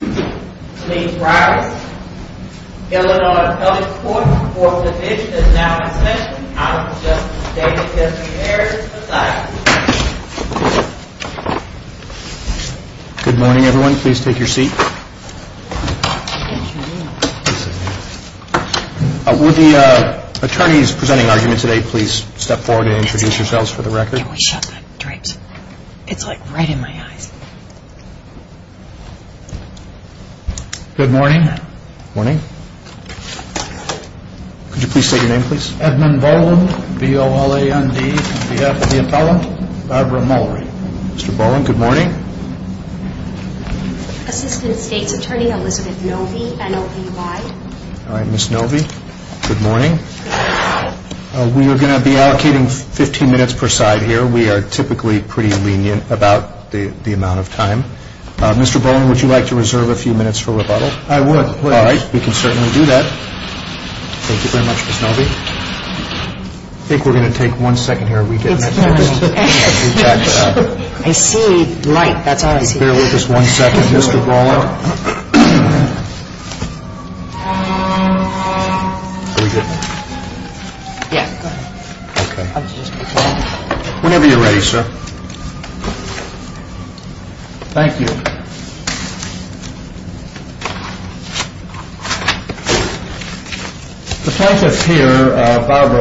Good morning everyone. Please take your seat. Would the attorneys presenting today please step forward and introduce yourselves for the record. Good morning. Good morning. Could you please state your name please? Edmond Boland, B-O-L-A-N-D, B-F-E-F-L-L-A-N-D, Barbara Mowry. The plaintiff here Barbara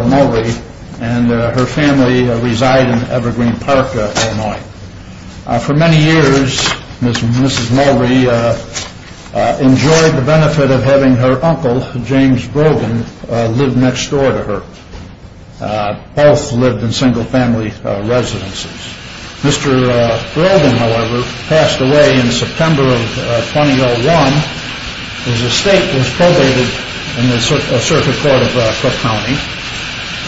Mowry and her family reside in Evergreen Park, Illinois. For many years Mrs. Mowry enjoyed the benefit of having her uncle James Brogan live next door to her. Both lived in single family residences. Mr. Brogan however passed away in September of 2001. His estate was probated in the circuit court of Cook County.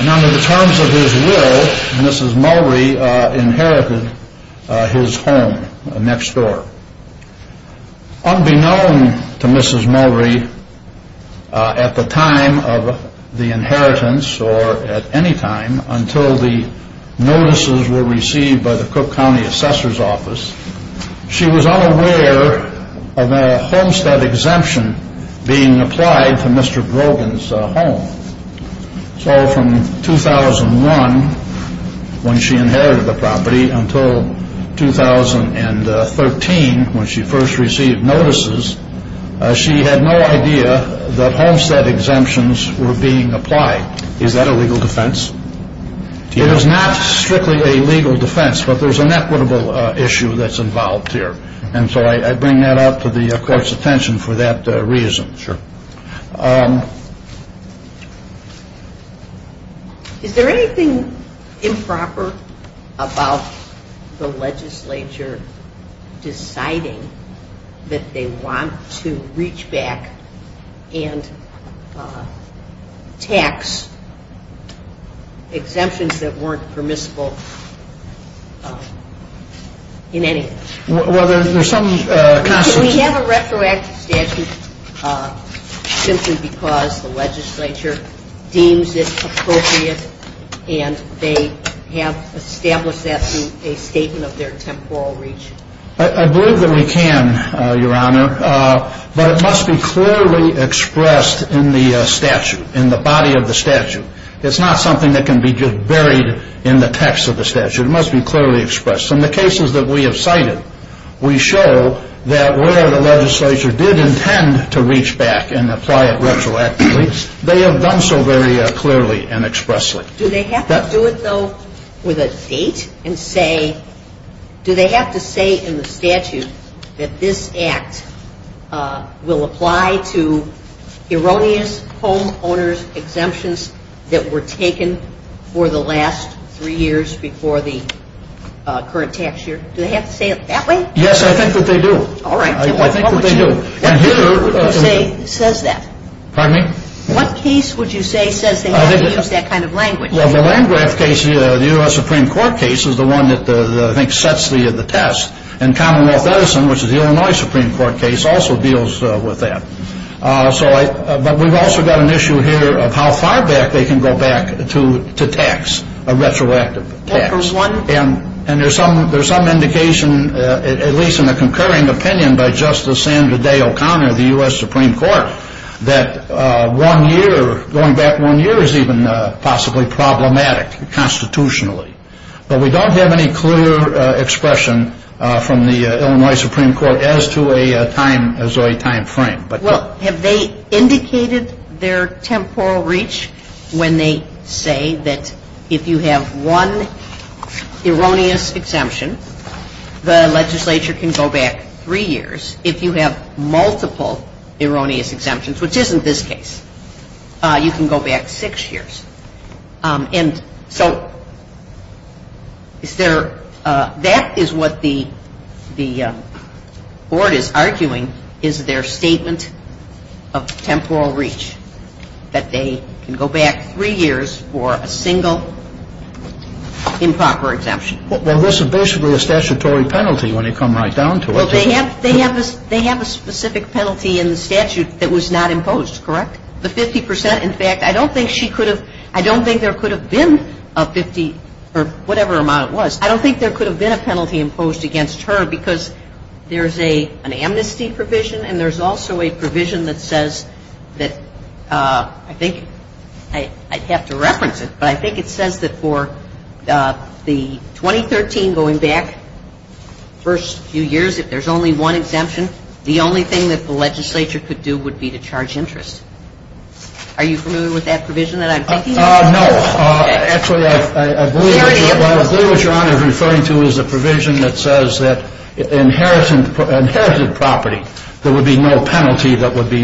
And under the terms of his will Mrs. Mowry inherited his home next door. Unbeknown to Mrs. Mowry at the time of the inheritance or at any time until the notices were received by the Cook County Assessor's Office, she was unaware of a homestead exemption being applied to Mr. Brogan's home. So from 2001 when she inherited the property until 2013 when she first received notices she had no idea that homestead exemptions were being applied. Is that a legal defense? It is not strictly a legal defense but there's an equitable issue that's involved here and so I bring that up to the court's attention for that reason. Sure. Is there anything improper about the legislature deciding that they want to reach back and tax exemptions that weren't permissible in any way? Well there's some... We have a retroactive statute simply because the legislature did not establish that to be a statement of their temporal reach. I believe that we can, Your Honor, but it must be clearly expressed in the statute, in the body of the statute. It's not something that can be just buried in the text of the statute. It must be clearly expressed. In the cases that we have cited we show that where the legislature did intend to reach back and apply it date and say, do they have to say in the statute that this act will apply to erroneous home owners exemptions that were taken for the last three years before the current tax year? Do they have to say it that way? Yes, I think that they do. All right. What case would you say says that? Pardon me? What case would you say says they have to use that kind of language? Well, the Landgraf case, the U.S. Supreme Court case is the one that I think sets the test. And Commonwealth Edison, which is the Illinois Supreme Court case, also deals with that. But we've also got an issue here of how far back they can go back to tax, a retroactive tax. And there's some indication, at least in a concurring opinion by Justice Sandra Day O'Connor of the U.S. Supreme Court, that one year, going back one year is even possibly problematic constitutionally. But we don't have any clear expression from the Illinois Supreme Court as to a time frame. Well, have they indicated their temporal reach when they say that if you have one erroneous exemption, the legislature can go back three years. If you have multiple erroneous exemptions, which isn't this case, you can go back six years. And so is there that is what the Board is arguing is their statement of temporal reach, that they can go back three years for a single improper exemption. Well, this is basically a statutory penalty when you come right down to it. Well, they have a specific penalty in the statute that was not imposed, correct? The 50 percent? In fact, I don't think she could have, I don't think there could have been a 50 or whatever amount it was. I don't think there could have been a penalty imposed against her because there's an amnesty provision and there's also a provision that says that I think I'd have to reference it, but I think it says that for the 2013 going back first few years, if there's only one exemption, the only thing that the legislature could do would be to charge interest. Are you familiar with that provision that I'm thinking of? No. Actually, I believe what Your Honor is referring to is a provision that says that inherited property, there would be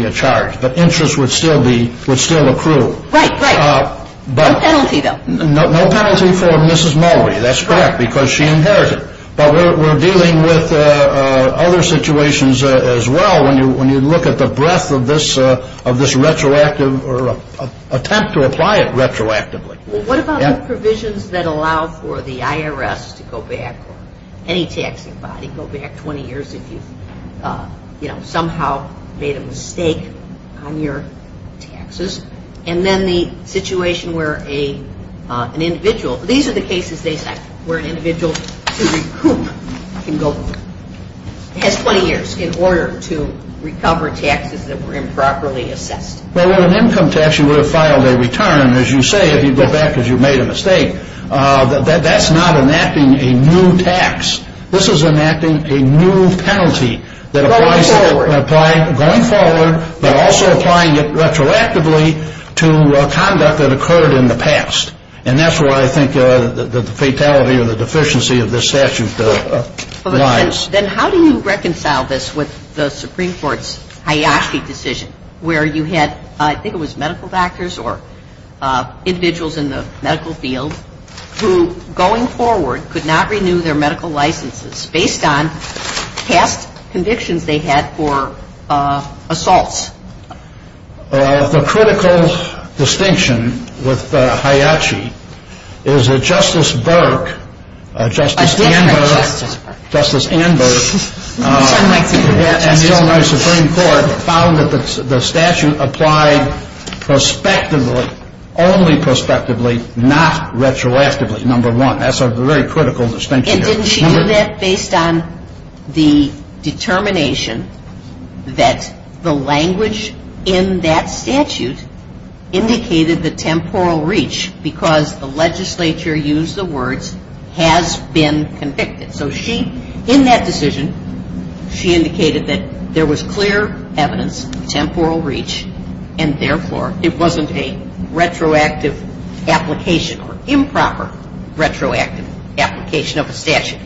a charge, but interest would still be, would still accrue. Right, right. No penalty though. No penalty for Mrs. Mulvey, that's correct, because she inherited. But we're dealing with other situations as well when you look at the breadth of this, of this retroactive, or attempt to apply it retroactively. What about the provisions that allow for the IRS to go back, or any taxing body go back 20 years if you've, you know, somehow made a mistake on your taxes? And then the situation where an individual, these are the cases they say, where an individual can recoup, can go, has 20 years in order to recover taxes that were improperly assessed. Well, with an income tax, you would have filed a return. As you say, if you go back because you made a mistake, that's not enacting a new tax. This is enacting a new penalty that applies, going forward, but also applying it retroactively to conduct that occurred in the past. And that's where I think the fatality or the deficiency of this statute lies. Then how do you reconcile this with the Supreme Court's Hayashi decision, where you had, I think it was medical doctors or individuals in the medical field who, going forward, could not renew their medical licenses based on past convictions they had for assaults? The critical distinction with Hayashi is that Justice Burke, Justice Anberg, Justice Anberg and the Illinois Supreme Court found that the statute applied prospectively, only prospectively, not retroactively, number one. That's a very critical distinction there. And didn't she do that based on the determination that the language in that statute indicated the temporal reach because the legislature used the and therefore it wasn't a retroactive application or improper retroactive application of a statute?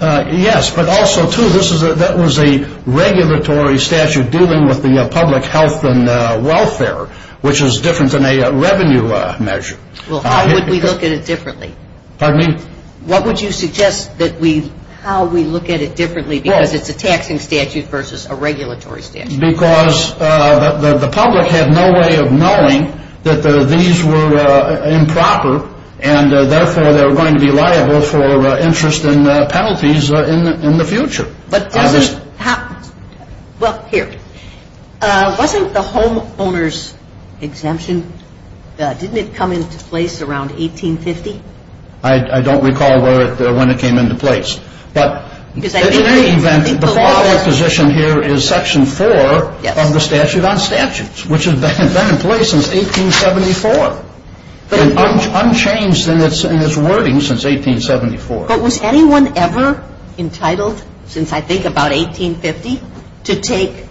Yes, but also, too, that was a regulatory statute dealing with the public health and welfare, which is different than a revenue measure. Well, how would we look at it differently? Pardon me? What would you suggest that we, how we look at it differently because it's a taxing statute versus a regulatory statute? Because the public had no way of knowing that these were improper and therefore they were going to be liable for interest in penalties in the future. But doesn't, well, here, wasn't the homeowner's exemption, didn't it come into place around 1850? I don't recall when it came into place. But in any event, the following position here is Section 4 of the Statute on Statutes, which has been in place since 1874. Unchanged in its wording since 1874. But was anyone ever entitled, since I think about 1850, to take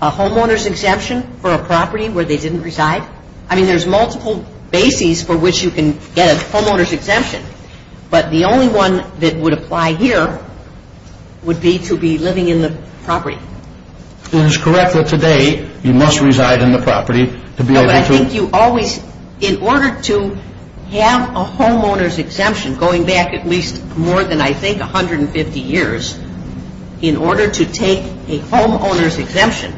a homeowner's exemption for a property where they didn't reside? I mean, there's multiple bases for which you can get a homeowner's exemption. But the only one that would apply here would be to be living in the property. It is correct that today you must reside in the property to be able to No, but I think you always, in order to have a homeowner's exemption going back at least more than, I think, 150 years, in order to take a homeowner's exemption,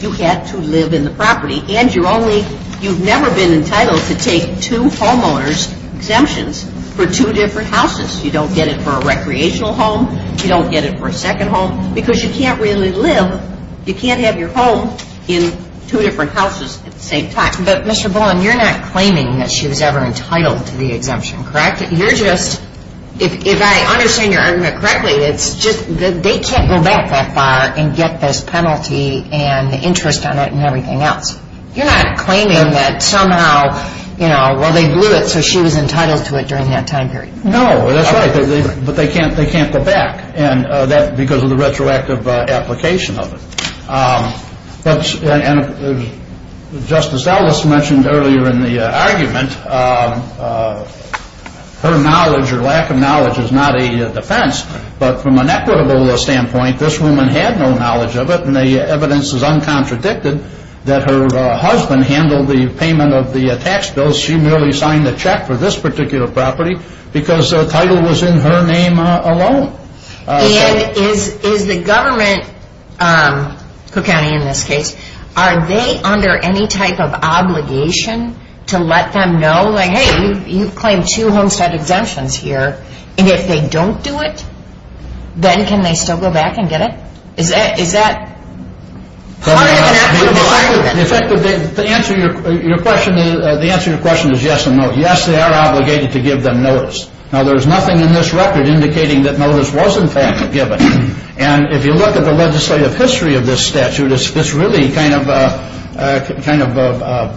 you have to live in the property. And you're only, you've never been entitled to take two homeowners' exemptions for two different houses. You don't get it for a recreational home. You don't get it for a second home. Because you can't really live, you can't have your home in two different houses at the same time. But Mr. Bullen, you're not claiming that she was ever entitled to the exemption, correct? You're just, if I understand your argument correctly, it's just that they can't go back that far and get this penalty and the interest on it and everything else. You're not claiming that somehow, you know, well, they blew it so she was entitled to it during that time period. No, that's right. But they can't go back. And that's because of the retroactive application of it. But Justice Ellis mentioned earlier in the argument, her knowledge or lack of knowledge is not a defense. But from an equitable standpoint, this woman had no knowledge of it. And the evidence is uncontradicted that her husband handled the payment of the tax bills. She merely signed the check for this particular property because the title was in her name alone. And is the government, Cook County in this case, are they under any type of obligation to let them know, like, hey, you've claimed two homestead exemptions here, and if they don't do it, then can they still go back and get it? Is that part of an equitable argument? The answer to your question is yes and no. Yes, they are obligated to give them notice. Now, there's nothing in this record indicating that notice was in fact given. And if you look at the legislative history of this statute, it's really kind of a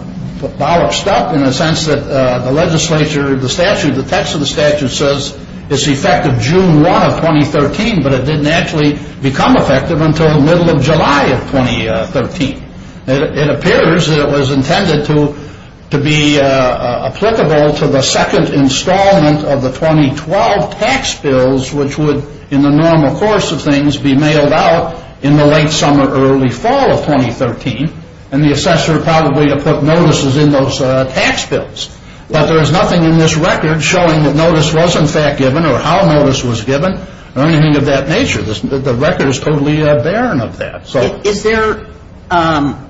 ball of stuff in the sense that the legislature, the statute, the text of the statute says it's effective June 1 of 2013, but it didn't actually become effective until the middle of July of 2013. It appears that it was intended to be applicable to the second installment of the 2012 tax bills, which would in the normal course of things be mailed out in the late summer, early fall of 2013, and the assessor probably to put notices in those tax bills. But there's nothing in this record showing that notice was in fact given or how notice was given or anything of that nature. The record is totally barren of that. Is there –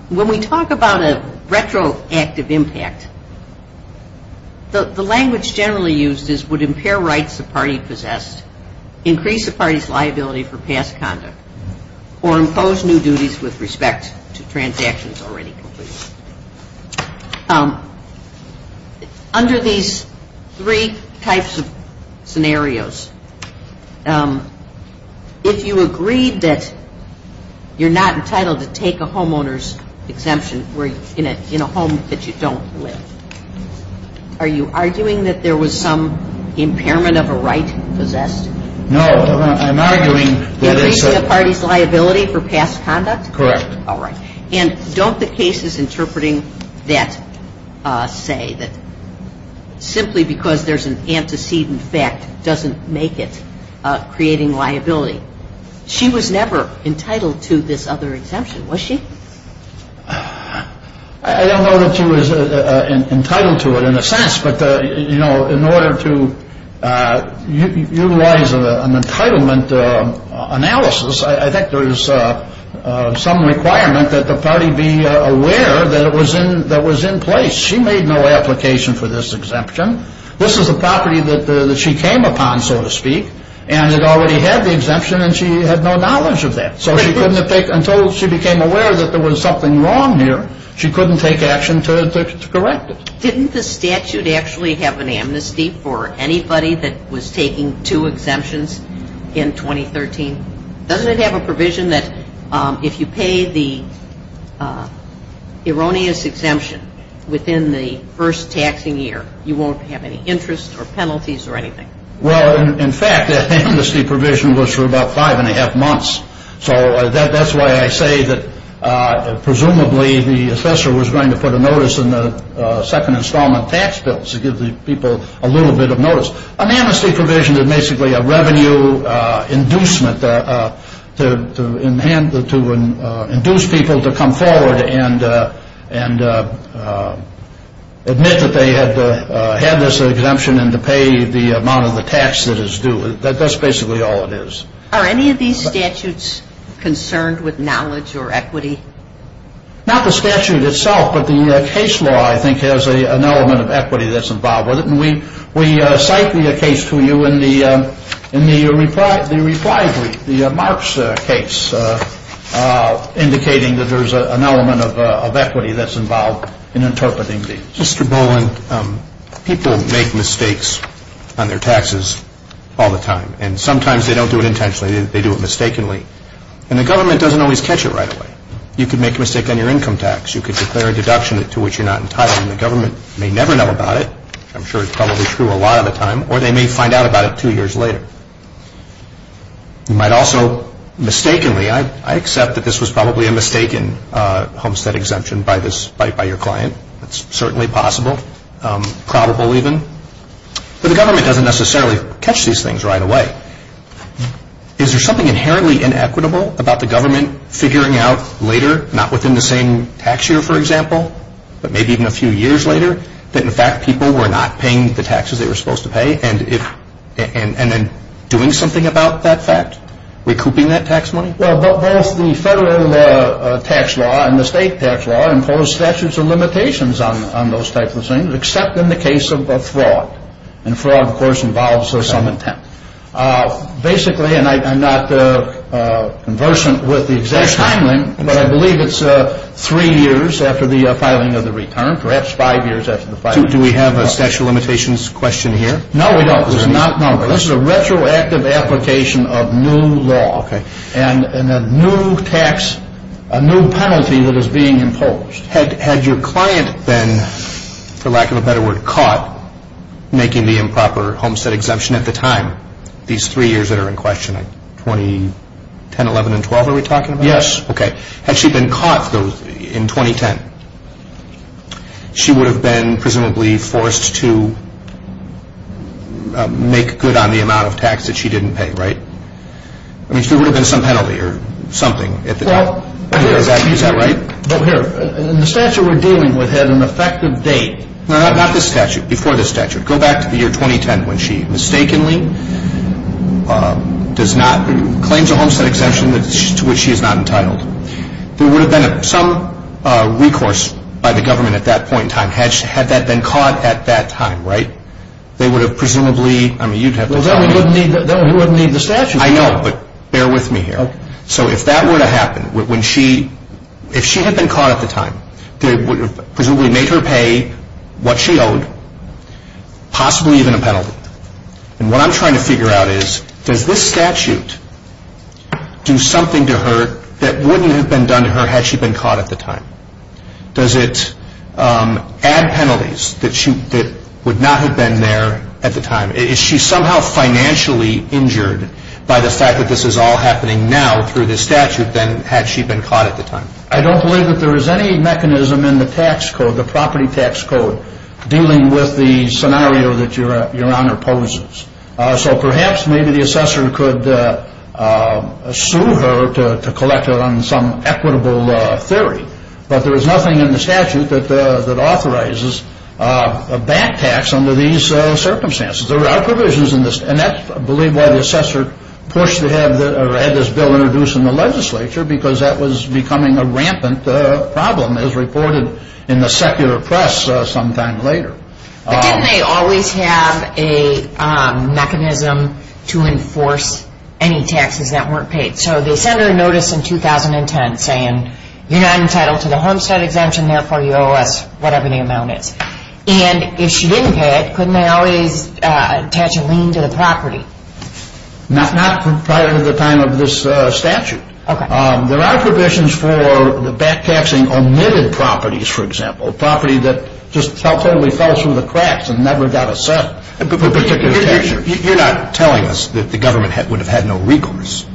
when we talk about a retroactive impact, the language generally used is would impair rights a party possessed, increase a party's liability for past conduct, or impose new duties with respect to transactions already completed. Under these three types of scenarios, if you agreed that you're not entitled to take a homeowner's exemption in a home that you don't live, are you arguing that there was some impairment of a right possessed? No, I'm arguing – Increasing a party's liability for past conduct? Correct. All right. And don't the cases interpreting that say that simply because there's an antecedent fact doesn't make it creating liability? She was never entitled to this other exemption, was she? I don't know that she was entitled to it in a sense, but, you know, in order to utilize an entitlement analysis, I think there is some requirement that the party be aware that it was in place. She made no application for this exemption. This is a property that she came upon, so to speak, and it already had the exemption, and she had no knowledge of that. So she couldn't have taken – until she became aware that there was something wrong here, she couldn't take action to correct it. Didn't the statute actually have an amnesty for anybody that was taking two exemptions in 2013? Doesn't it have a provision that if you pay the erroneous exemption within the first taxing year, you won't have any interest or penalties or anything? Well, in fact, that amnesty provision was for about five and a half months. So that's why I say that presumably the assessor was going to put a notice in the second installment tax bill to give the people a little bit of notice. An amnesty provision is basically a revenue inducement to induce people to come forward and admit that they had this exemption and to pay the amount of the tax that is due. That's basically all it is. Are any of these statutes concerned with knowledge or equity? Not the statute itself, but the case law, I think, has an element of equity that's involved with it, and we cite the case to you in the reply brief, the Marks case, indicating that there's an element of equity that's involved in interpreting these. Mr. Boland, people make mistakes on their taxes all the time, and sometimes they don't do it intentionally, they do it mistakenly, and the government doesn't always catch it right away. You could make a mistake on your income tax. You could declare a deduction to which you're not entitled, and the government may never know about it. I'm sure it's probably true a lot of the time, or they may find out about it two years later. You might also mistakenly, I accept that this was probably a mistaken homestead exemption by your client. It's certainly possible, probable even. But the government doesn't necessarily catch these things right away. Is there something inherently inequitable about the government figuring out later, not within the same tax year, for example, but maybe even a few years later, that in fact people were not paying the taxes they were supposed to pay, and then doing something about that fact, recouping that tax money? Well, both the federal tax law and the state tax law impose statutes of limitations on those types of things, except in the case of a fraud, and fraud, of course, involves some intent. Basically, and I'm not conversant with the exact timeline, but I believe it's three years after the filing of the return, perhaps five years after the filing. Do we have a statute of limitations question here? No, we don't. This is a retroactive application of new law and a new tax, a new penalty that is being imposed. Had your client been, for lack of a better word, caught making the improper homestead exemption at the time, these three years that are in question, 2010, 11, and 12 are we talking about? Yes. Okay. Had she been caught in 2010, she would have been presumably forced to make good on the amount of tax that she didn't pay, right? I mean, there would have been some penalty or something. Well. Is that right? Well, here. The statute we're dealing with had an effective date. No, not this statute. Before this statute. Go back to the year 2010 when she mistakenly does not, claims a homestead exemption to which she is not entitled. There would have been some recourse by the government at that point in time. Had that been caught at that time, right, they would have presumably, I mean, you'd have to. Well, then we wouldn't need the statute. I know, but bear with me here. So if that were to happen, if she had been caught at the time, they would have presumably made her pay what she owed, possibly even a penalty. And what I'm trying to figure out is, does this statute do something to her that wouldn't have been done to her had she been caught at the time? Does it add penalties that would not have been there at the time? Is she somehow financially injured by the fact that this is all happening now through this statute than had she been caught at the time? I don't believe that there is any mechanism in the tax code, the property tax code, dealing with the scenario that Your Honor poses. So perhaps maybe the assessor could sue her to collect her on some equitable theory. But there is nothing in the statute that authorizes a back tax under these circumstances. There are provisions in this, and that's, I believe, why the assessor pushed to have this bill introduced in the legislature, because that was becoming a rampant problem, as reported in the secular press sometime later. But didn't they always have a mechanism to enforce any taxes that weren't paid? So they sent her a notice in 2010 saying, you're not entitled to the Homestead exemption, therefore you owe us whatever the amount is. And if she didn't pay it, couldn't they always attach a lien to the property? Not prior to the time of this statute. There are provisions for back taxing omitted properties, for example, property that just totally fell through the cracks and never got a set for particular taxes. You're not telling us that the government would have had no recourse.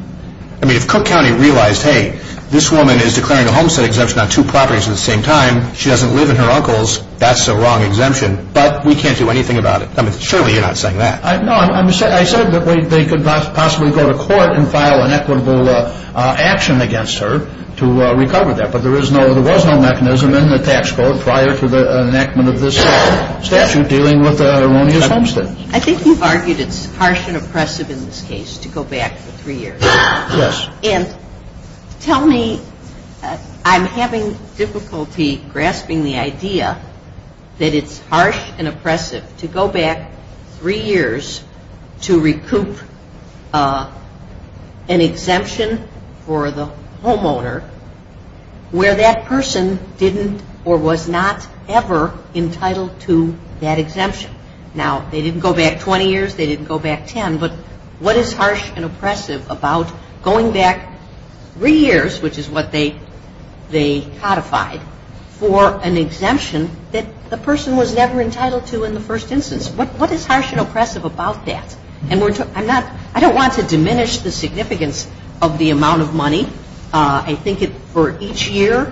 I mean, if Cook County realized, hey, this woman is declaring a Homestead exemption on two properties at the same time, she doesn't live in her uncle's, that's a wrong exemption, but we can't do anything about it. I mean, surely you're not saying that. No, I said that they could possibly go to court and file an equitable action against her to recover that. But there was no mechanism in the tax code prior to the enactment of this statute dealing with erroneous Homestead. I think you've argued it's harsh and oppressive in this case to go back for three years. Yes. And tell me, I'm having difficulty grasping the idea that it's harsh and oppressive to go back three years to recoup an exemption for the homeowner where that person didn't or was not ever entitled to that exemption. Now, they didn't go back 20 years, they didn't go back 10, but what is harsh and oppressive about going back three years, which is what they codified, for an exemption that the person was never entitled to in the first instance? What is harsh and oppressive about that? And I don't want to diminish the significance of the amount of money. I think for each year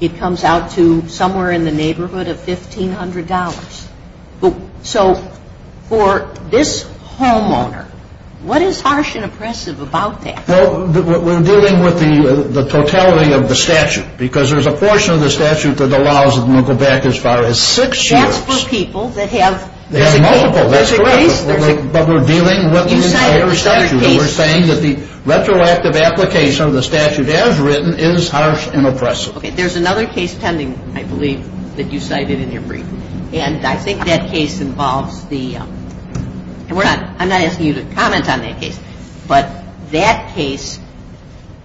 it comes out to somewhere in the neighborhood of $1,500. So for this homeowner, what is harsh and oppressive about that? Well, we're dealing with the totality of the statute, because there's a portion of the statute that allows them to go back as far as six years. That's for people that have a case. They have multiple, that's correct. But we're dealing with the entire statute. And we're saying that the retroactive application of the statute as written is harsh and oppressive. Okay, there's another case pending, I believe, that you cited in your brief. And I think that case involves the, and I'm not asking you to comment on that case, but that case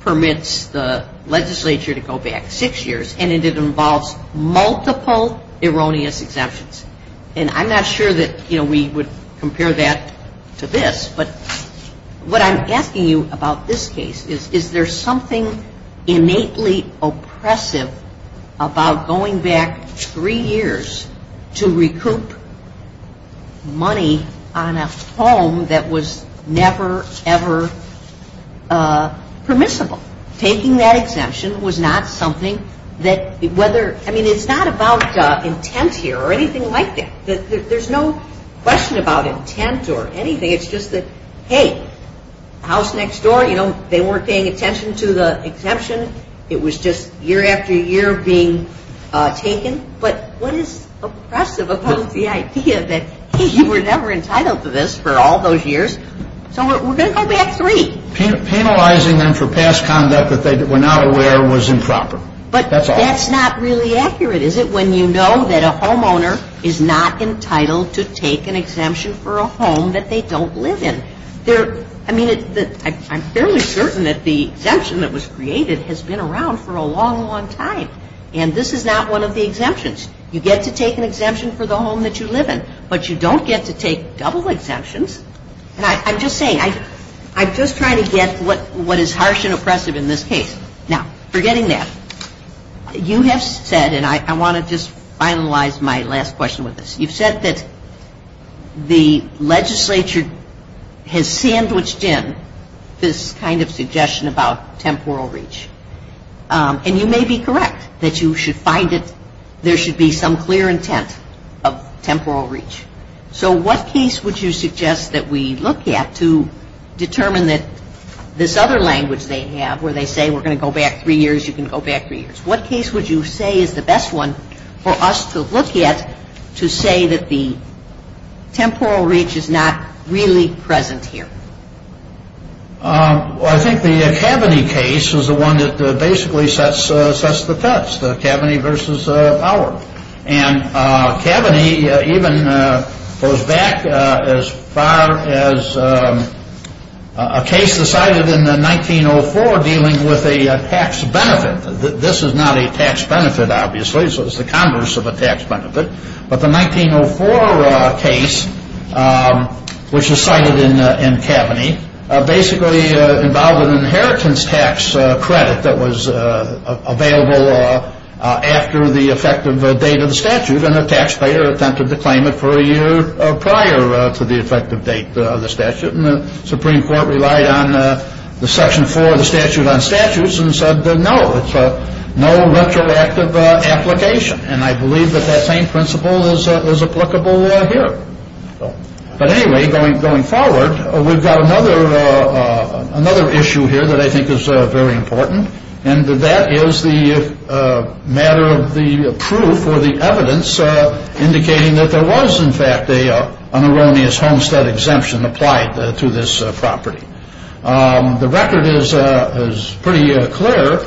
permits the legislature to go back six years, and it involves multiple erroneous exemptions. And I'm not sure that, you know, we would compare that to this, but what I'm asking you about this case is, is there something innately oppressive about going back three years to recoup money on a home that was never, ever permissible? Taking that exemption was not something that, whether, I mean, it's not about intent here or anything like that. There's no question about intent or anything. It's just that, hey, house next door, you know, they weren't paying attention to the exemption. It was just year after year being taken. But what is oppressive about the idea that, hey, you were never entitled to this for all those years. So we're going to go back three. Penalizing them for past conduct that they were not aware was improper. But that's not really accurate, is it, when you know that a homeowner is not entitled to take an exemption for a home that they don't live in. I mean, I'm fairly certain that the exemption that was created has been around for a long, long time. And this is not one of the exemptions. You get to take an exemption for the home that you live in, but you don't get to take double exemptions. And I'm just saying, I'm just trying to get what is harsh and oppressive in this case. Now, forgetting that, you have said, and I want to just finalize my last question with this. You've said that the legislature has sandwiched in this kind of suggestion about temporal reach. And you may be correct that you should find that there should be some clear intent of temporal reach. So what case would you suggest that we look at to determine that this other language they have where they say we're going to go back three years, you can go back three years. What case would you say is the best one for us to look at to say that the temporal reach is not really present here? Well, I think the Kaveny case is the one that basically sets the test, Kaveny versus Power. And Kaveny even goes back as far as a case decided in 1904 dealing with a tax benefit. This is not a tax benefit, obviously, so it's the converse of a tax benefit. But the 1904 case, which is cited in Kaveny, basically involved an inheritance tax credit that was available after the effective date of the statute, and a taxpayer attempted to claim it for a year prior to the effective date of the statute. And the Supreme Court relied on the Section 4 of the Statute on Statutes and said no, it's no retroactive application. And I believe that that same principle is applicable here. But anyway, going forward, we've got another issue here that I think is very important, and that is the matter of the proof or the evidence indicating that there was, in fact, an erroneous homestead exemption applied to this property. The record is pretty clear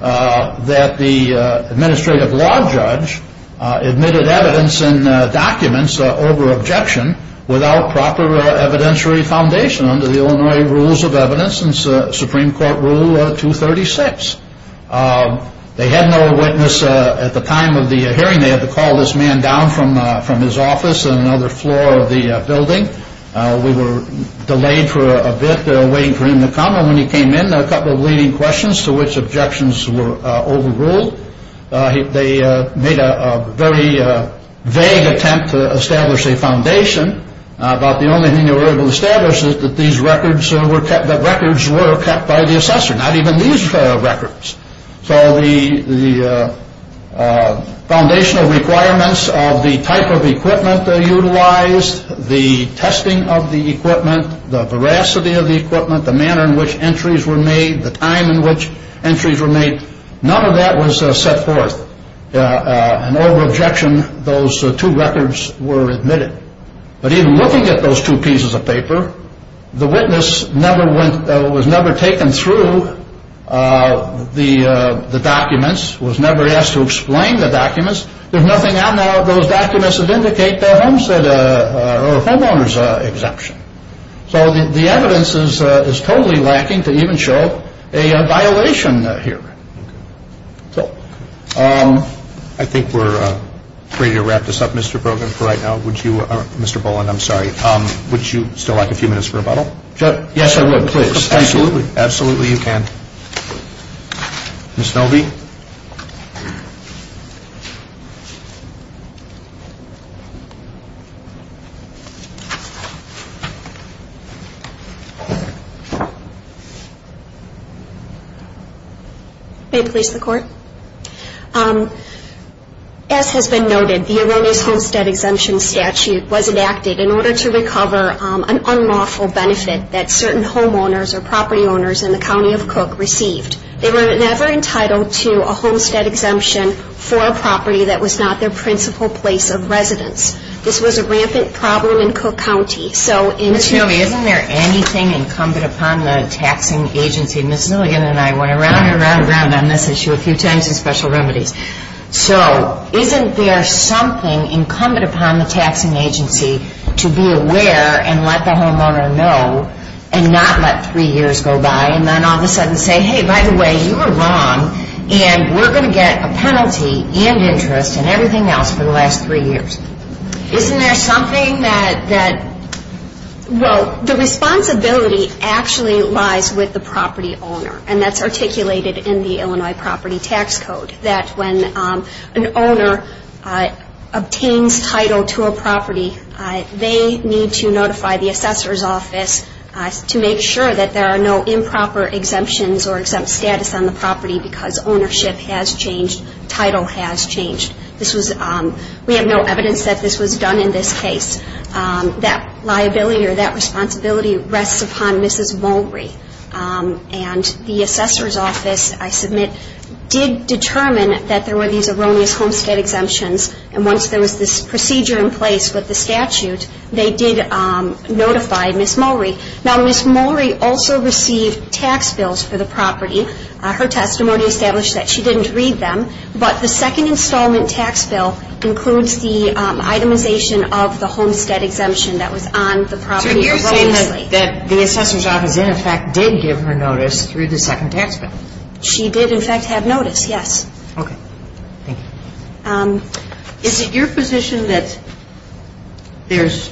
that the administrative law judge admitted evidence and documents over objection without proper evidentiary foundation under the Illinois Rules of Evidence and Supreme Court Rule 236. They had no witness at the time of the hearing. They had to call this man down from his office on another floor of the building. We were delayed for a bit waiting for him to come. And when he came in, there were a couple of leading questions to which objections were overruled. They made a very vague attempt to establish a foundation about the only thing they were able to establish is that these records were kept by the assessor, not even these records. So the foundational requirements of the type of equipment they utilized, the testing of the equipment, the veracity of the equipment, the manner in which entries were made, the time in which entries were made, none of that was set forth. And over objection, those two records were admitted. But even looking at those two pieces of paper, the witness was never taken through the documents, was never asked to explain the documents. There's nothing out now of those documents that indicate the homeowner's exemption. So the evidence is totally lacking to even show a violation here. I think we're ready to wrap this up, Mr. Brogan, for right now. Mr. Boland, I'm sorry. Would you still like a few minutes for rebuttal? Yes, I would, please. Absolutely. Absolutely you can. Ms. Nelby? May it please the Court? As has been noted, the Erroneous Homestead Exemption Statute was enacted in order to recover an unlawful benefit that certain homeowners or property owners in the County of Cook received. They were never entitled to a homestead exemption for a property that was not their principal place of residence. This was a rampant problem in Cook County. Ms. Nelby, isn't there anything incumbent upon the taxing agency? Ms. Zilligan and I went around and around and around on this issue a few times in Special Remedies. So isn't there something incumbent upon the taxing agency to be aware and let the homeowner know and not let three years go by and then all of a sudden say, hey, by the way, you were wrong and we're going to get a penalty and interest and everything else for the last three years? Isn't there something that... Well, the responsibility actually lies with the property owner, and that's articulated in the Illinois Property Tax Code that when an owner obtains title to a property, they need to notify the assessor's office to make sure that there are no improper exemptions or exempt status on the property because ownership has changed, title has changed. We have no evidence that this was done in this case. That liability or that responsibility rests upon Mrs. Mulrey, and the assessor's office, I submit, did determine that there were these erroneous homestead exemptions, and once there was this procedure in place with the statute, they did notify Ms. Mulrey. Now, Ms. Mulrey also received tax bills for the property. Her testimony established that she didn't read them, but the second installment tax bill includes the itemization of the homestead exemption that was on the property. So you're saying that the assessor's office, in effect, did give her notice through the second tax bill? She did, in fact, have notice, yes. Okay. Thank you. Is it your position that there's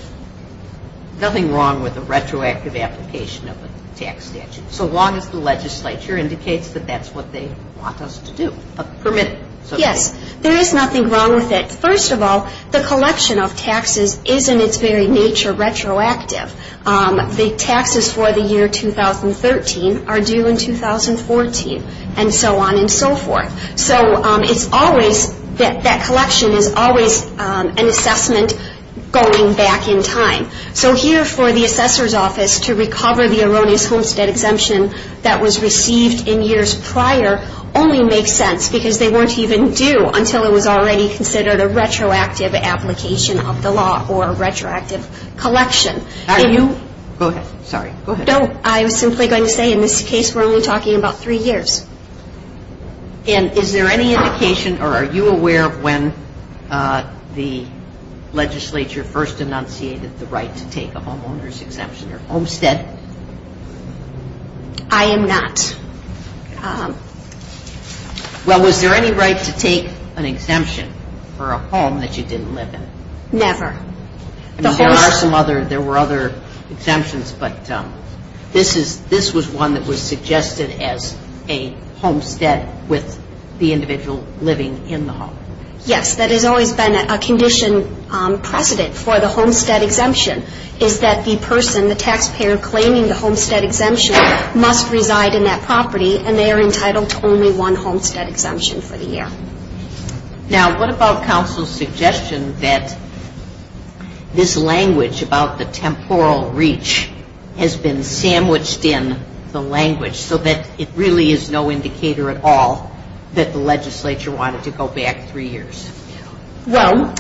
nothing wrong with a retroactive application of a tax statute so long as the legislature indicates that that's what they want us to do, permit it? Yes, there is nothing wrong with it. First of all, the collection of taxes is, in its very nature, retroactive. The taxes for the year 2013 are due in 2014 and so on and so forth. So it's always, that collection is always an assessment going back in time. So here, for the assessor's office to recover the erroneous homestead exemption that was received in years prior only makes sense because they weren't even due until it was already considered a retroactive application of the law or a retroactive collection. Are you? Go ahead. Sorry. Go ahead. No. I was simply going to say, in this case, we're only talking about three years. And is there any indication or are you aware of when the legislature first enunciated the right to take a homeowner's exemption or homestead? I am not. Well, was there any right to take an exemption for a home that you didn't live in? Never. There were other exemptions, but this was one that was suggested as a homestead with the individual living in the home. Yes. That has always been a condition precedent for the homestead exemption is that the person, the taxpayer, claiming the homestead exemption must reside in that property and they are entitled to only one homestead exemption for the year. Now, what about counsel's suggestion that this language about the temporal reach has been sandwiched in the language so that it really is no indicator at all that the legislature wanted to go back three years? Well,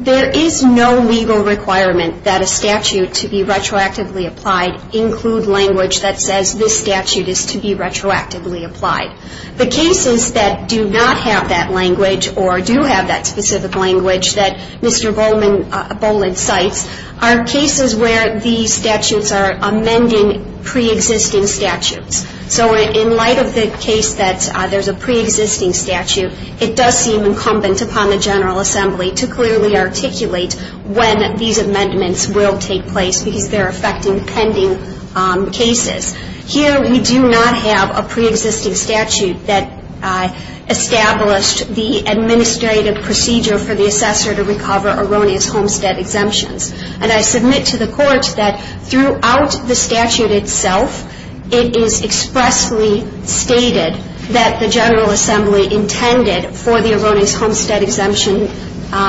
there is no legal requirement that a statute to be retroactively applied include language that says this statute is to be retroactively applied. The cases that do not have that language or do have that specific language that Mr. Boland cites are cases where these statutes are amending preexisting statutes. So in light of the case that there is a preexisting statute, it does seem incumbent upon the General Assembly to clearly articulate when these amendments will take place because they are affecting pending cases. Here we do not have a preexisting statute that established the administrative procedure for the assessor to recover erroneous homestead exemptions. And I submit to the Court that throughout the statute itself, it is expressly stated that the General Assembly intended for the erroneous homestead exemption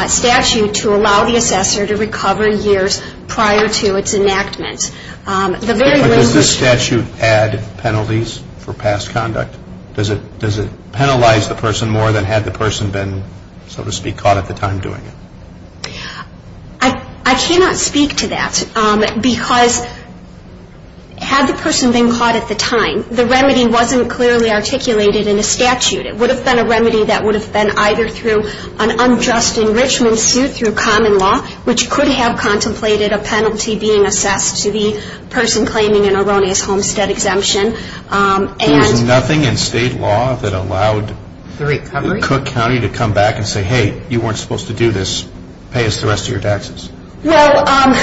statute to allow the assessor to recover years prior to its enactment. But does this statute add penalties for past conduct? Does it penalize the person more than had the person been, so to speak, caught at the time doing it? I cannot speak to that because had the person been caught at the time, the remedy wasn't clearly articulated in the statute. It would have been a remedy that would have been either through an unjust enrichment suit through common law, which could have contemplated a penalty being assessed to the person claiming an erroneous homestead exemption. There was nothing in state law that allowed Cook County to come back and say, hey, you weren't supposed to do this. Pay us the rest of your taxes. Well,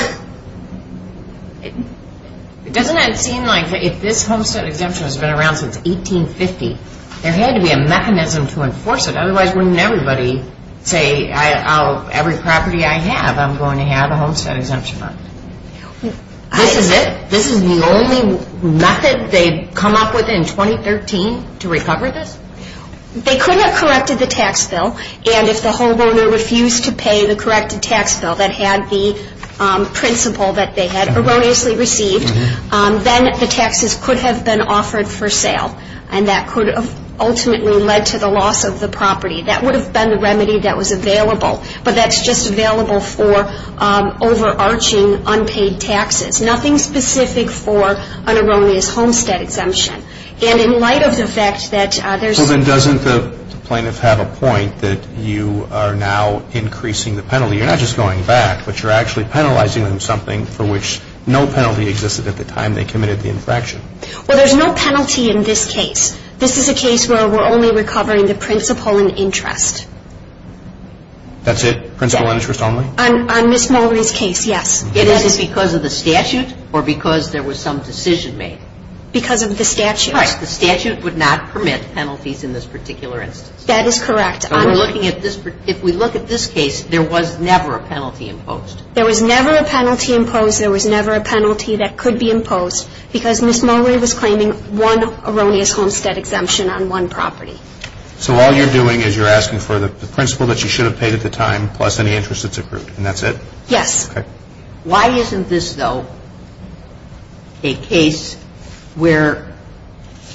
it doesn't seem like if this homestead exemption has been around since 1850, there had to be a mechanism to enforce it. Otherwise, wouldn't everybody say, every property I have, I'm going to have a homestead exemption on it? This is it? This is the only method they've come up with in 2013 to recover this? They could have corrected the tax bill. And if the homeowner refused to pay the corrected tax bill that had the principle that they had erroneously received, then the taxes could have been offered for sale. And that could have ultimately led to the loss of the property. That would have been the remedy that was available. But that's just available for overarching unpaid taxes. Nothing specific for an erroneous homestead exemption. And in light of the fact that there's... Well, then doesn't the plaintiff have a point that you are now increasing the penalty? You're not just going back, but you're actually penalizing them something for which no penalty existed at the time they committed the infraction. Well, there's no penalty in this case. This is a case where we're only recovering the principle and interest. That's it? Principle and interest only? On Ms. Mulrey's case, yes. Is this because of the statute or because there was some decision made? Because of the statute. Right. The statute would not permit penalties in this particular instance. That is correct. If we look at this case, there was never a penalty imposed. There was never a penalty imposed. Because there was never a penalty that could be imposed. Because Ms. Mulrey was claiming one erroneous homestead exemption on one property. So all you're doing is you're asking for the principle that she should have paid at the time, plus any interest that's accrued. And that's it? Yes. Okay. Why isn't this, though, a case where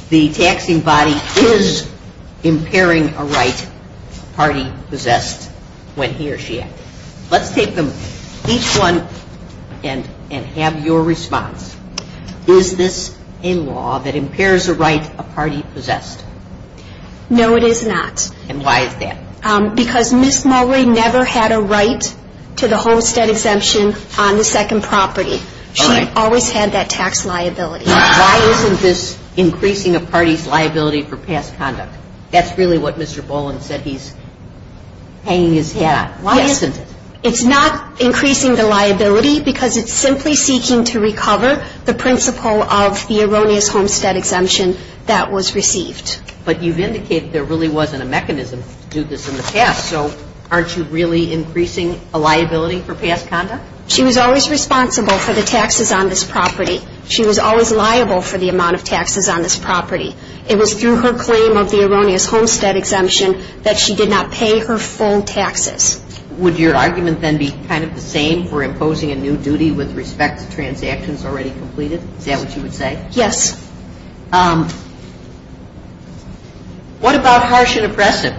the taxing body is impairing a right a party possessed when he or she acted? Let's take them, each one, and have your response. Is this a law that impairs a right a party possessed? No, it is not. And why is that? Because Ms. Mulrey never had a right to the homestead exemption on the second property. She always had that tax liability. Why isn't this increasing a party's liability for past conduct? That's really what Mr. Boland said. He's hanging his hat. Why isn't it? It's not increasing the liability because it's simply seeking to recover the principle of the erroneous homestead exemption that was received. But you've indicated there really wasn't a mechanism to do this in the past. So aren't you really increasing a liability for past conduct? She was always responsible for the taxes on this property. She was always liable for the amount of taxes on this property. It was through her claim of the erroneous homestead exemption that she did not pay her full taxes. Would your argument then be kind of the same for imposing a new duty with respect to transactions already completed? Is that what you would say? Yes. What about harsh and oppressive?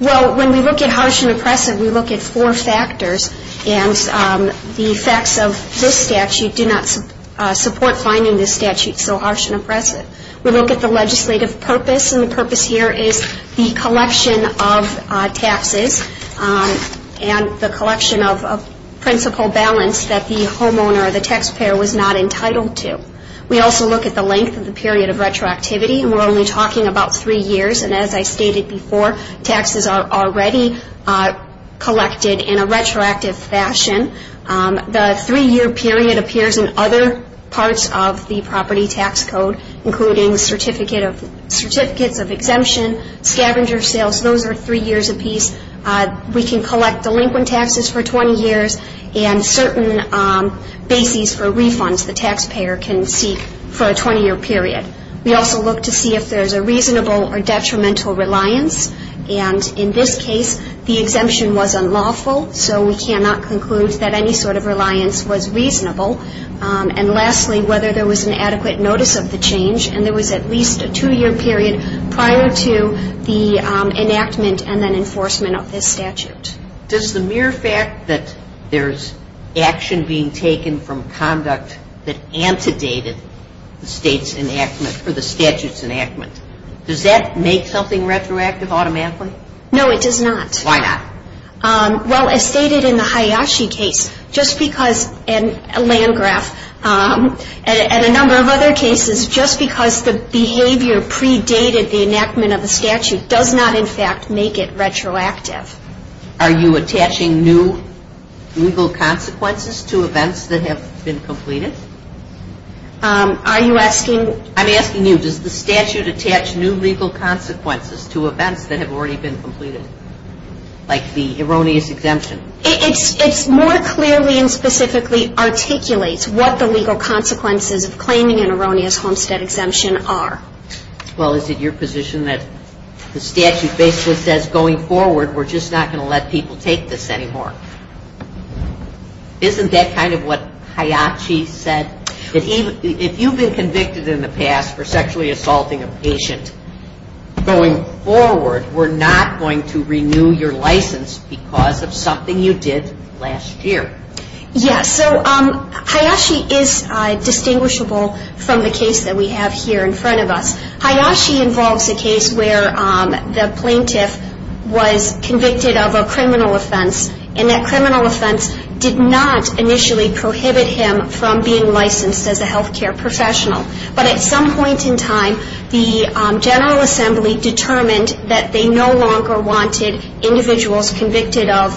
Well, when we look at harsh and oppressive, we look at four factors. And the facts of this statute do not support finding this statute so harsh and oppressive. We look at the legislative purpose, and the purpose here is the collection of taxes and the collection of principal balance that the homeowner or the taxpayer was not entitled to. We also look at the length of the period of retroactivity, and we're only talking about three years. And as I stated before, taxes are already collected in a retroactive fashion. The three-year period appears in other parts of the property tax code, including certificates of exemption, scavenger sales. Those are three years apiece. We can collect delinquent taxes for 20 years and certain bases for refunds the taxpayer can seek for a 20-year period. We also look to see if there's a reasonable or detrimental reliance. And in this case, the exemption was unlawful, so we cannot conclude that any sort of reliance was reasonable. And lastly, whether there was an adequate notice of the change, and there was at least a two-year period prior to the enactment and then enforcement of this statute. Does the mere fact that there's action being taken from conduct that antedated the state's enactment for the statute's enactment, does that make something retroactive automatically? No, it does not. Why not? Well, as stated in the Hayashi case, just because, and Landgraf, and a number of other cases, just because the behavior predated the enactment of the statute does not, in fact, make it retroactive. Are you attaching new legal consequences to events that have been completed? Are you asking? I'm asking you, does the statute attach new legal consequences to events that have already been completed, like the erroneous exemption? It more clearly and specifically articulates what the legal consequences of claiming an erroneous homestead exemption are. Well, is it your position that the statute basically says, going forward, we're just not going to let people take this anymore? Isn't that kind of what Hayashi said? If you've been convicted in the past for sexually assaulting a patient, going forward, we're not going to renew your license because of something you did last year? Yes. So Hayashi is distinguishable from the case that we have here in front of us. Hayashi involves a case where the plaintiff was convicted of a criminal offense and that criminal offense did not initially prohibit him from being licensed as a health care professional. But at some point in time, the General Assembly determined that they no longer wanted individuals convicted of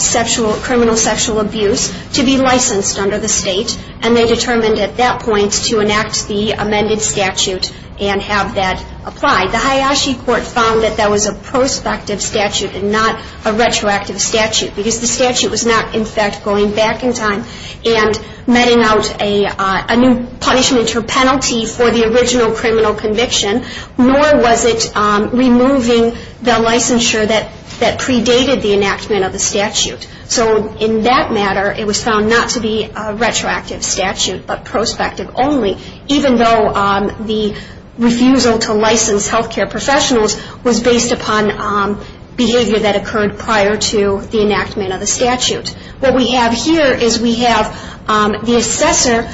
sexual, criminal sexual abuse to be licensed under the state, and they determined at that point to enact the amended statute and have that applied. The Hayashi court found that that was a prospective statute and not a retroactive statute because the statute was not, in fact, going back in time and metting out a new punishment or penalty for the original criminal conviction, nor was it removing the licensure that predated the enactment of the statute. So in that matter, it was found not to be a retroactive statute but prospective only, even though the refusal to license health care professionals was based upon behavior that occurred prior to the enactment of the statute. What we have here is we have the assessor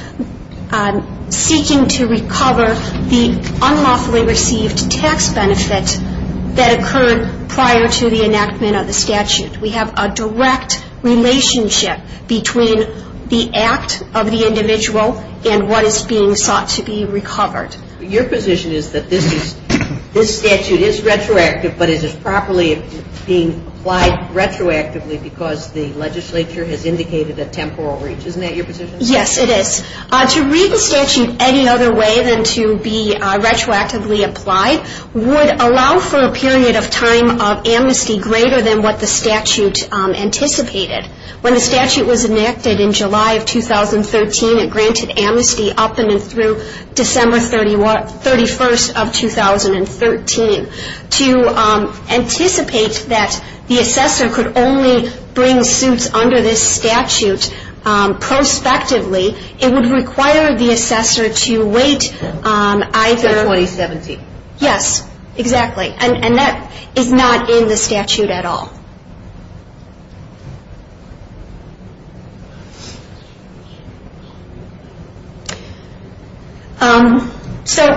seeking to recover the unlawfully received tax benefit that occurred prior to the enactment of the statute. We have a direct relationship between the act of the individual and what is being sought to be recovered. Your position is that this statute is retroactive, but it is properly being applied retroactively because the legislature has indicated a temporal reach. Isn't that your position? Yes, it is. To read the statute any other way than to be retroactively applied would allow for a period of time of amnesty greater than what the statute anticipated. When the statute was enacted in July of 2013, it granted amnesty up and through December 31st of 2013. To anticipate that the assessor could only bring suits under this statute prospectively, it would require the assessor to wait either... Until 2017. Yes, exactly. And that is not in the statute at all. So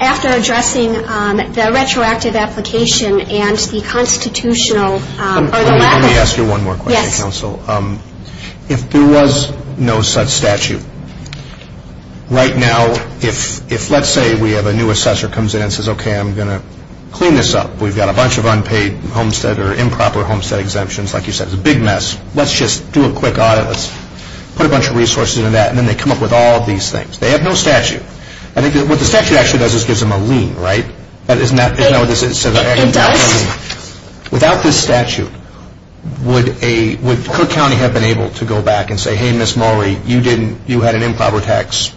after addressing the retroactive application and the constitutional... Let me ask you one more question, counsel. Yes. If there was no such statute, right now if let's say we have a new assessor comes in and says, okay, I'm going to clean this up. We've got a bunch of unpaid homestead or improper homestead exemptions. Like you said, it's a big mess. Let's just do a quick audit. Let's put a bunch of resources into that. And then they come up with all of these things. They have no statute. I think what the statute actually does is gives them a lien, right? Isn't that what this is? Endowments. Without this statute, would Cook County have been able to go back and say, hey, Ms. Maury, you had an improper tax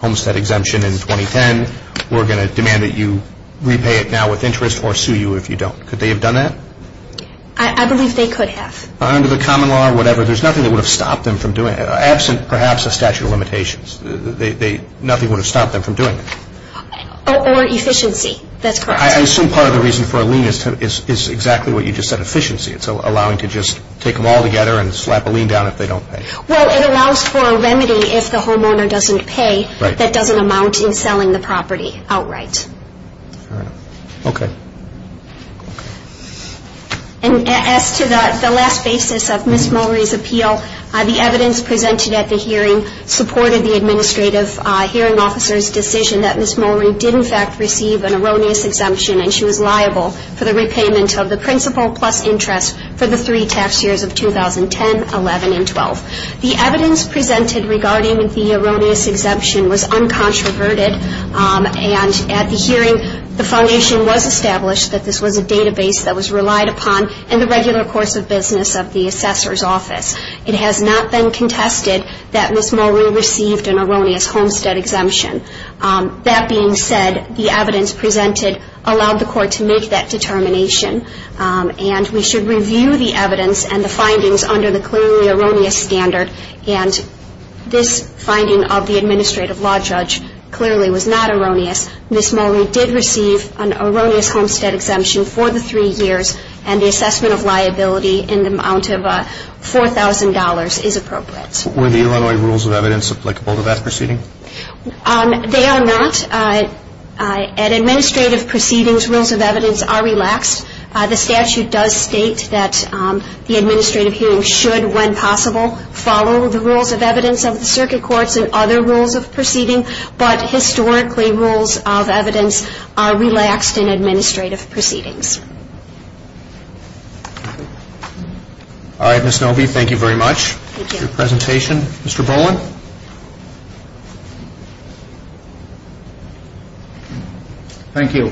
homestead exemption in 2010. We're going to demand that you repay it now with interest or sue you if you don't. Could they have done that? I believe they could have. Under the common law or whatever, there's nothing that would have stopped them from doing it, absent perhaps a statute of limitations. Nothing would have stopped them from doing it. Or efficiency, that's correct. I assume part of the reason for a lien is exactly what you just said, efficiency. It's allowing to just take them all together and slap a lien down if they don't pay. Well, it allows for a remedy if the homeowner doesn't pay that doesn't amount in selling the property outright. All right. Okay. And as to the last basis of Ms. Maury's appeal, the evidence presented at the hearing supported the administrative hearing officer's decision that Ms. Maury did in fact receive an erroneous exemption and she was liable for the repayment of the principal plus interest for the three tax years of 2010, 11, and 12. The evidence presented regarding the erroneous exemption was uncontroverted, and at the hearing the foundation was established that this was a database that was relied upon in the regular course of business of the assessor's office. It has not been contested that Ms. Maury received an erroneous homestead exemption. That being said, the evidence presented allowed the court to make that determination, and we should review the evidence and the findings under the clearly erroneous standard, and this finding of the administrative law judge clearly was not erroneous. Ms. Maury did receive an erroneous homestead exemption for the three years and the assessment of liability in the amount of $4,000 is appropriate. Were the Illinois rules of evidence applicable to that proceeding? They are not. At administrative proceedings, rules of evidence are relaxed. The statute does state that the administrative hearing should, when possible, follow the rules of evidence of the circuit courts and other rules of proceeding, but historically rules of evidence are relaxed in administrative proceedings. All right, Ms. Noby, thank you very much for your presentation. Mr. Boland? Thank you.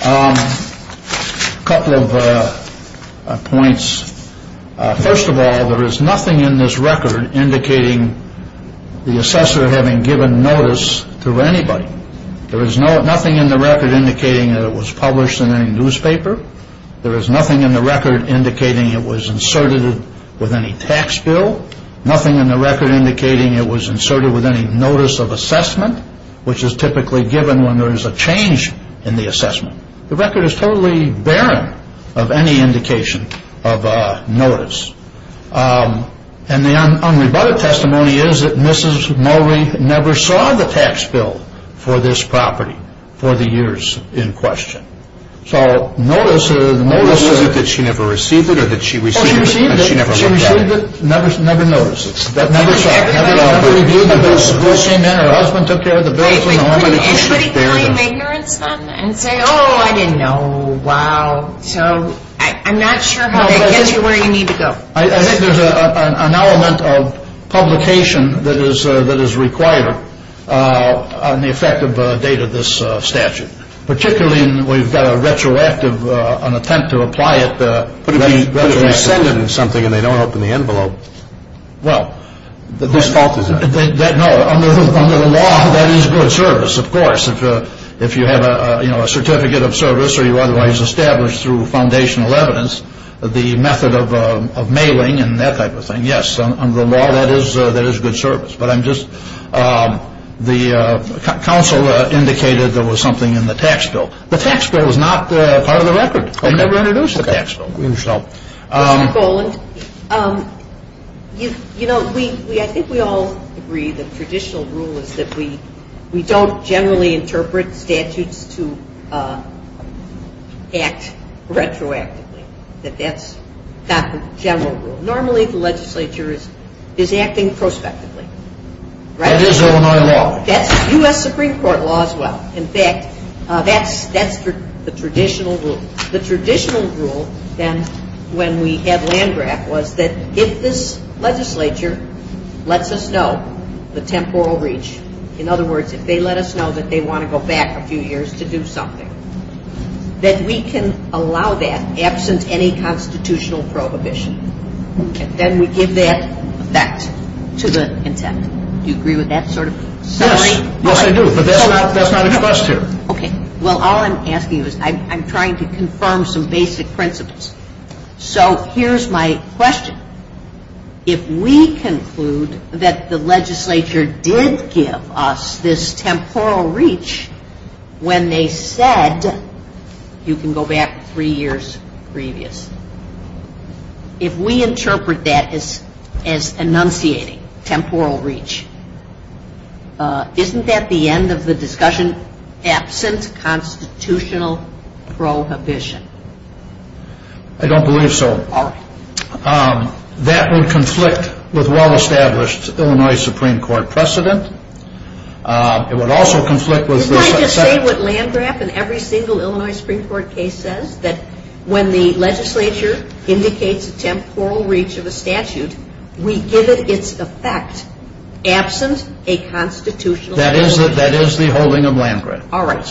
A couple of points. First of all, there is nothing in this record indicating the assessor having given notice to anybody. There is nothing in the record indicating that it was published in any newspaper. There is nothing in the record indicating it was inserted with any tax bill. Nothing in the record indicating it was inserted with any notice of assessment, which is typically given when there is a change in the assessment. The record is totally barren of any indication of notice, and the unrebutted testimony is that Mrs. Noby never saw the tax bill for this property for the years in question. So notice that she never received it or that she received it and she never looked at it? She received it, never noticed it, never saw it, never reviewed it. Her husband took care of the bill. Wait, wait, wait. Can anybody kind of ignorance them and say, oh, I didn't know, wow, so I'm not sure how that gets you where you need to go. I think there's an element of publication that is required on the effective date of this statute, particularly when we've got a retroactive, an attempt to apply it. But if they send it in something and they don't open the envelope, whose fault is that? No, under the law, that is good service, of course. If you have a certificate of service or you otherwise establish through foundational evidence, the method of mailing and that type of thing, yes, under the law, that is good service. But I'm just, the counsel indicated there was something in the tax bill. The tax bill was not part of the record. They never introduced the tax bill. Mr. Goland, you know, I think we all agree the traditional rule is that we don't generally interpret statutes to act retroactively. That that's not the general rule. Normally the legislature is acting prospectively. That is Illinois law. That's U.S. Supreme Court law as well. In fact, that's the traditional rule. When we had Landgraf was that if this legislature lets us know the temporal reach, in other words, if they let us know that they want to go back a few years to do something, that we can allow that absent any constitutional prohibition. And then we give that effect to the intent. Do you agree with that sort of summary? Yes. Yes, I do. But that's not expressed here. Okay. Well, all I'm asking is I'm trying to confirm some basic principles. So here's my question. If we conclude that the legislature did give us this temporal reach when they said you can go back three years previous, if we interpret that as enunciating temporal reach, isn't that the end of the discussion, absent constitutional prohibition? I don't believe so. All right. That would conflict with well-established Illinois Supreme Court precedent. It would also conflict with this. Isn't I just saying what Landgraf in every single Illinois Supreme Court case says, that when the legislature indicates a temporal reach of a statute, we give it its effect absent a constitutional prohibition? That is the holding of Landgraf. All right.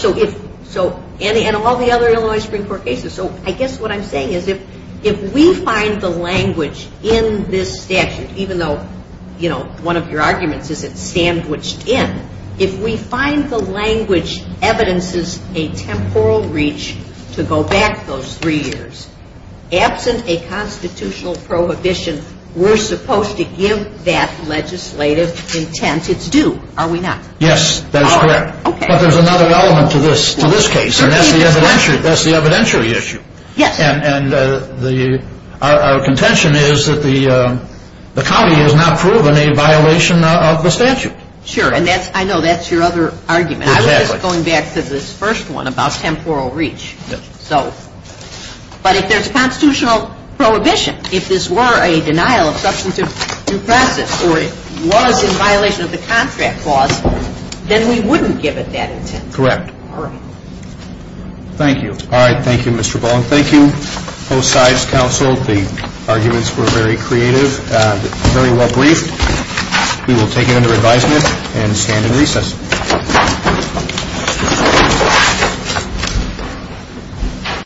And all the other Illinois Supreme Court cases. So I guess what I'm saying is if we find the language in this statute, even though one of your arguments is it's sandwiched in, if we find the language evidences a temporal reach to go back those three years, absent a constitutional prohibition, we're supposed to give that legislative intent its due, are we not? Yes, that is correct. But there's another element to this case, and that's the evidentiary issue. And our contention is that the county has not proven a violation of the statute. Sure, and I know that's your other argument. I was just going back to this first one about temporal reach. But if there's a constitutional prohibition, if this were a denial of substantive due process or it was in violation of the contract clause, then we wouldn't give it that intent. Correct. All right. Thank you. All right, thank you, Mr. Bowen. Thank you, both sides counsel. The arguments were very creative and very well briefed. We will take it under advisement and stand in recess. Thank you.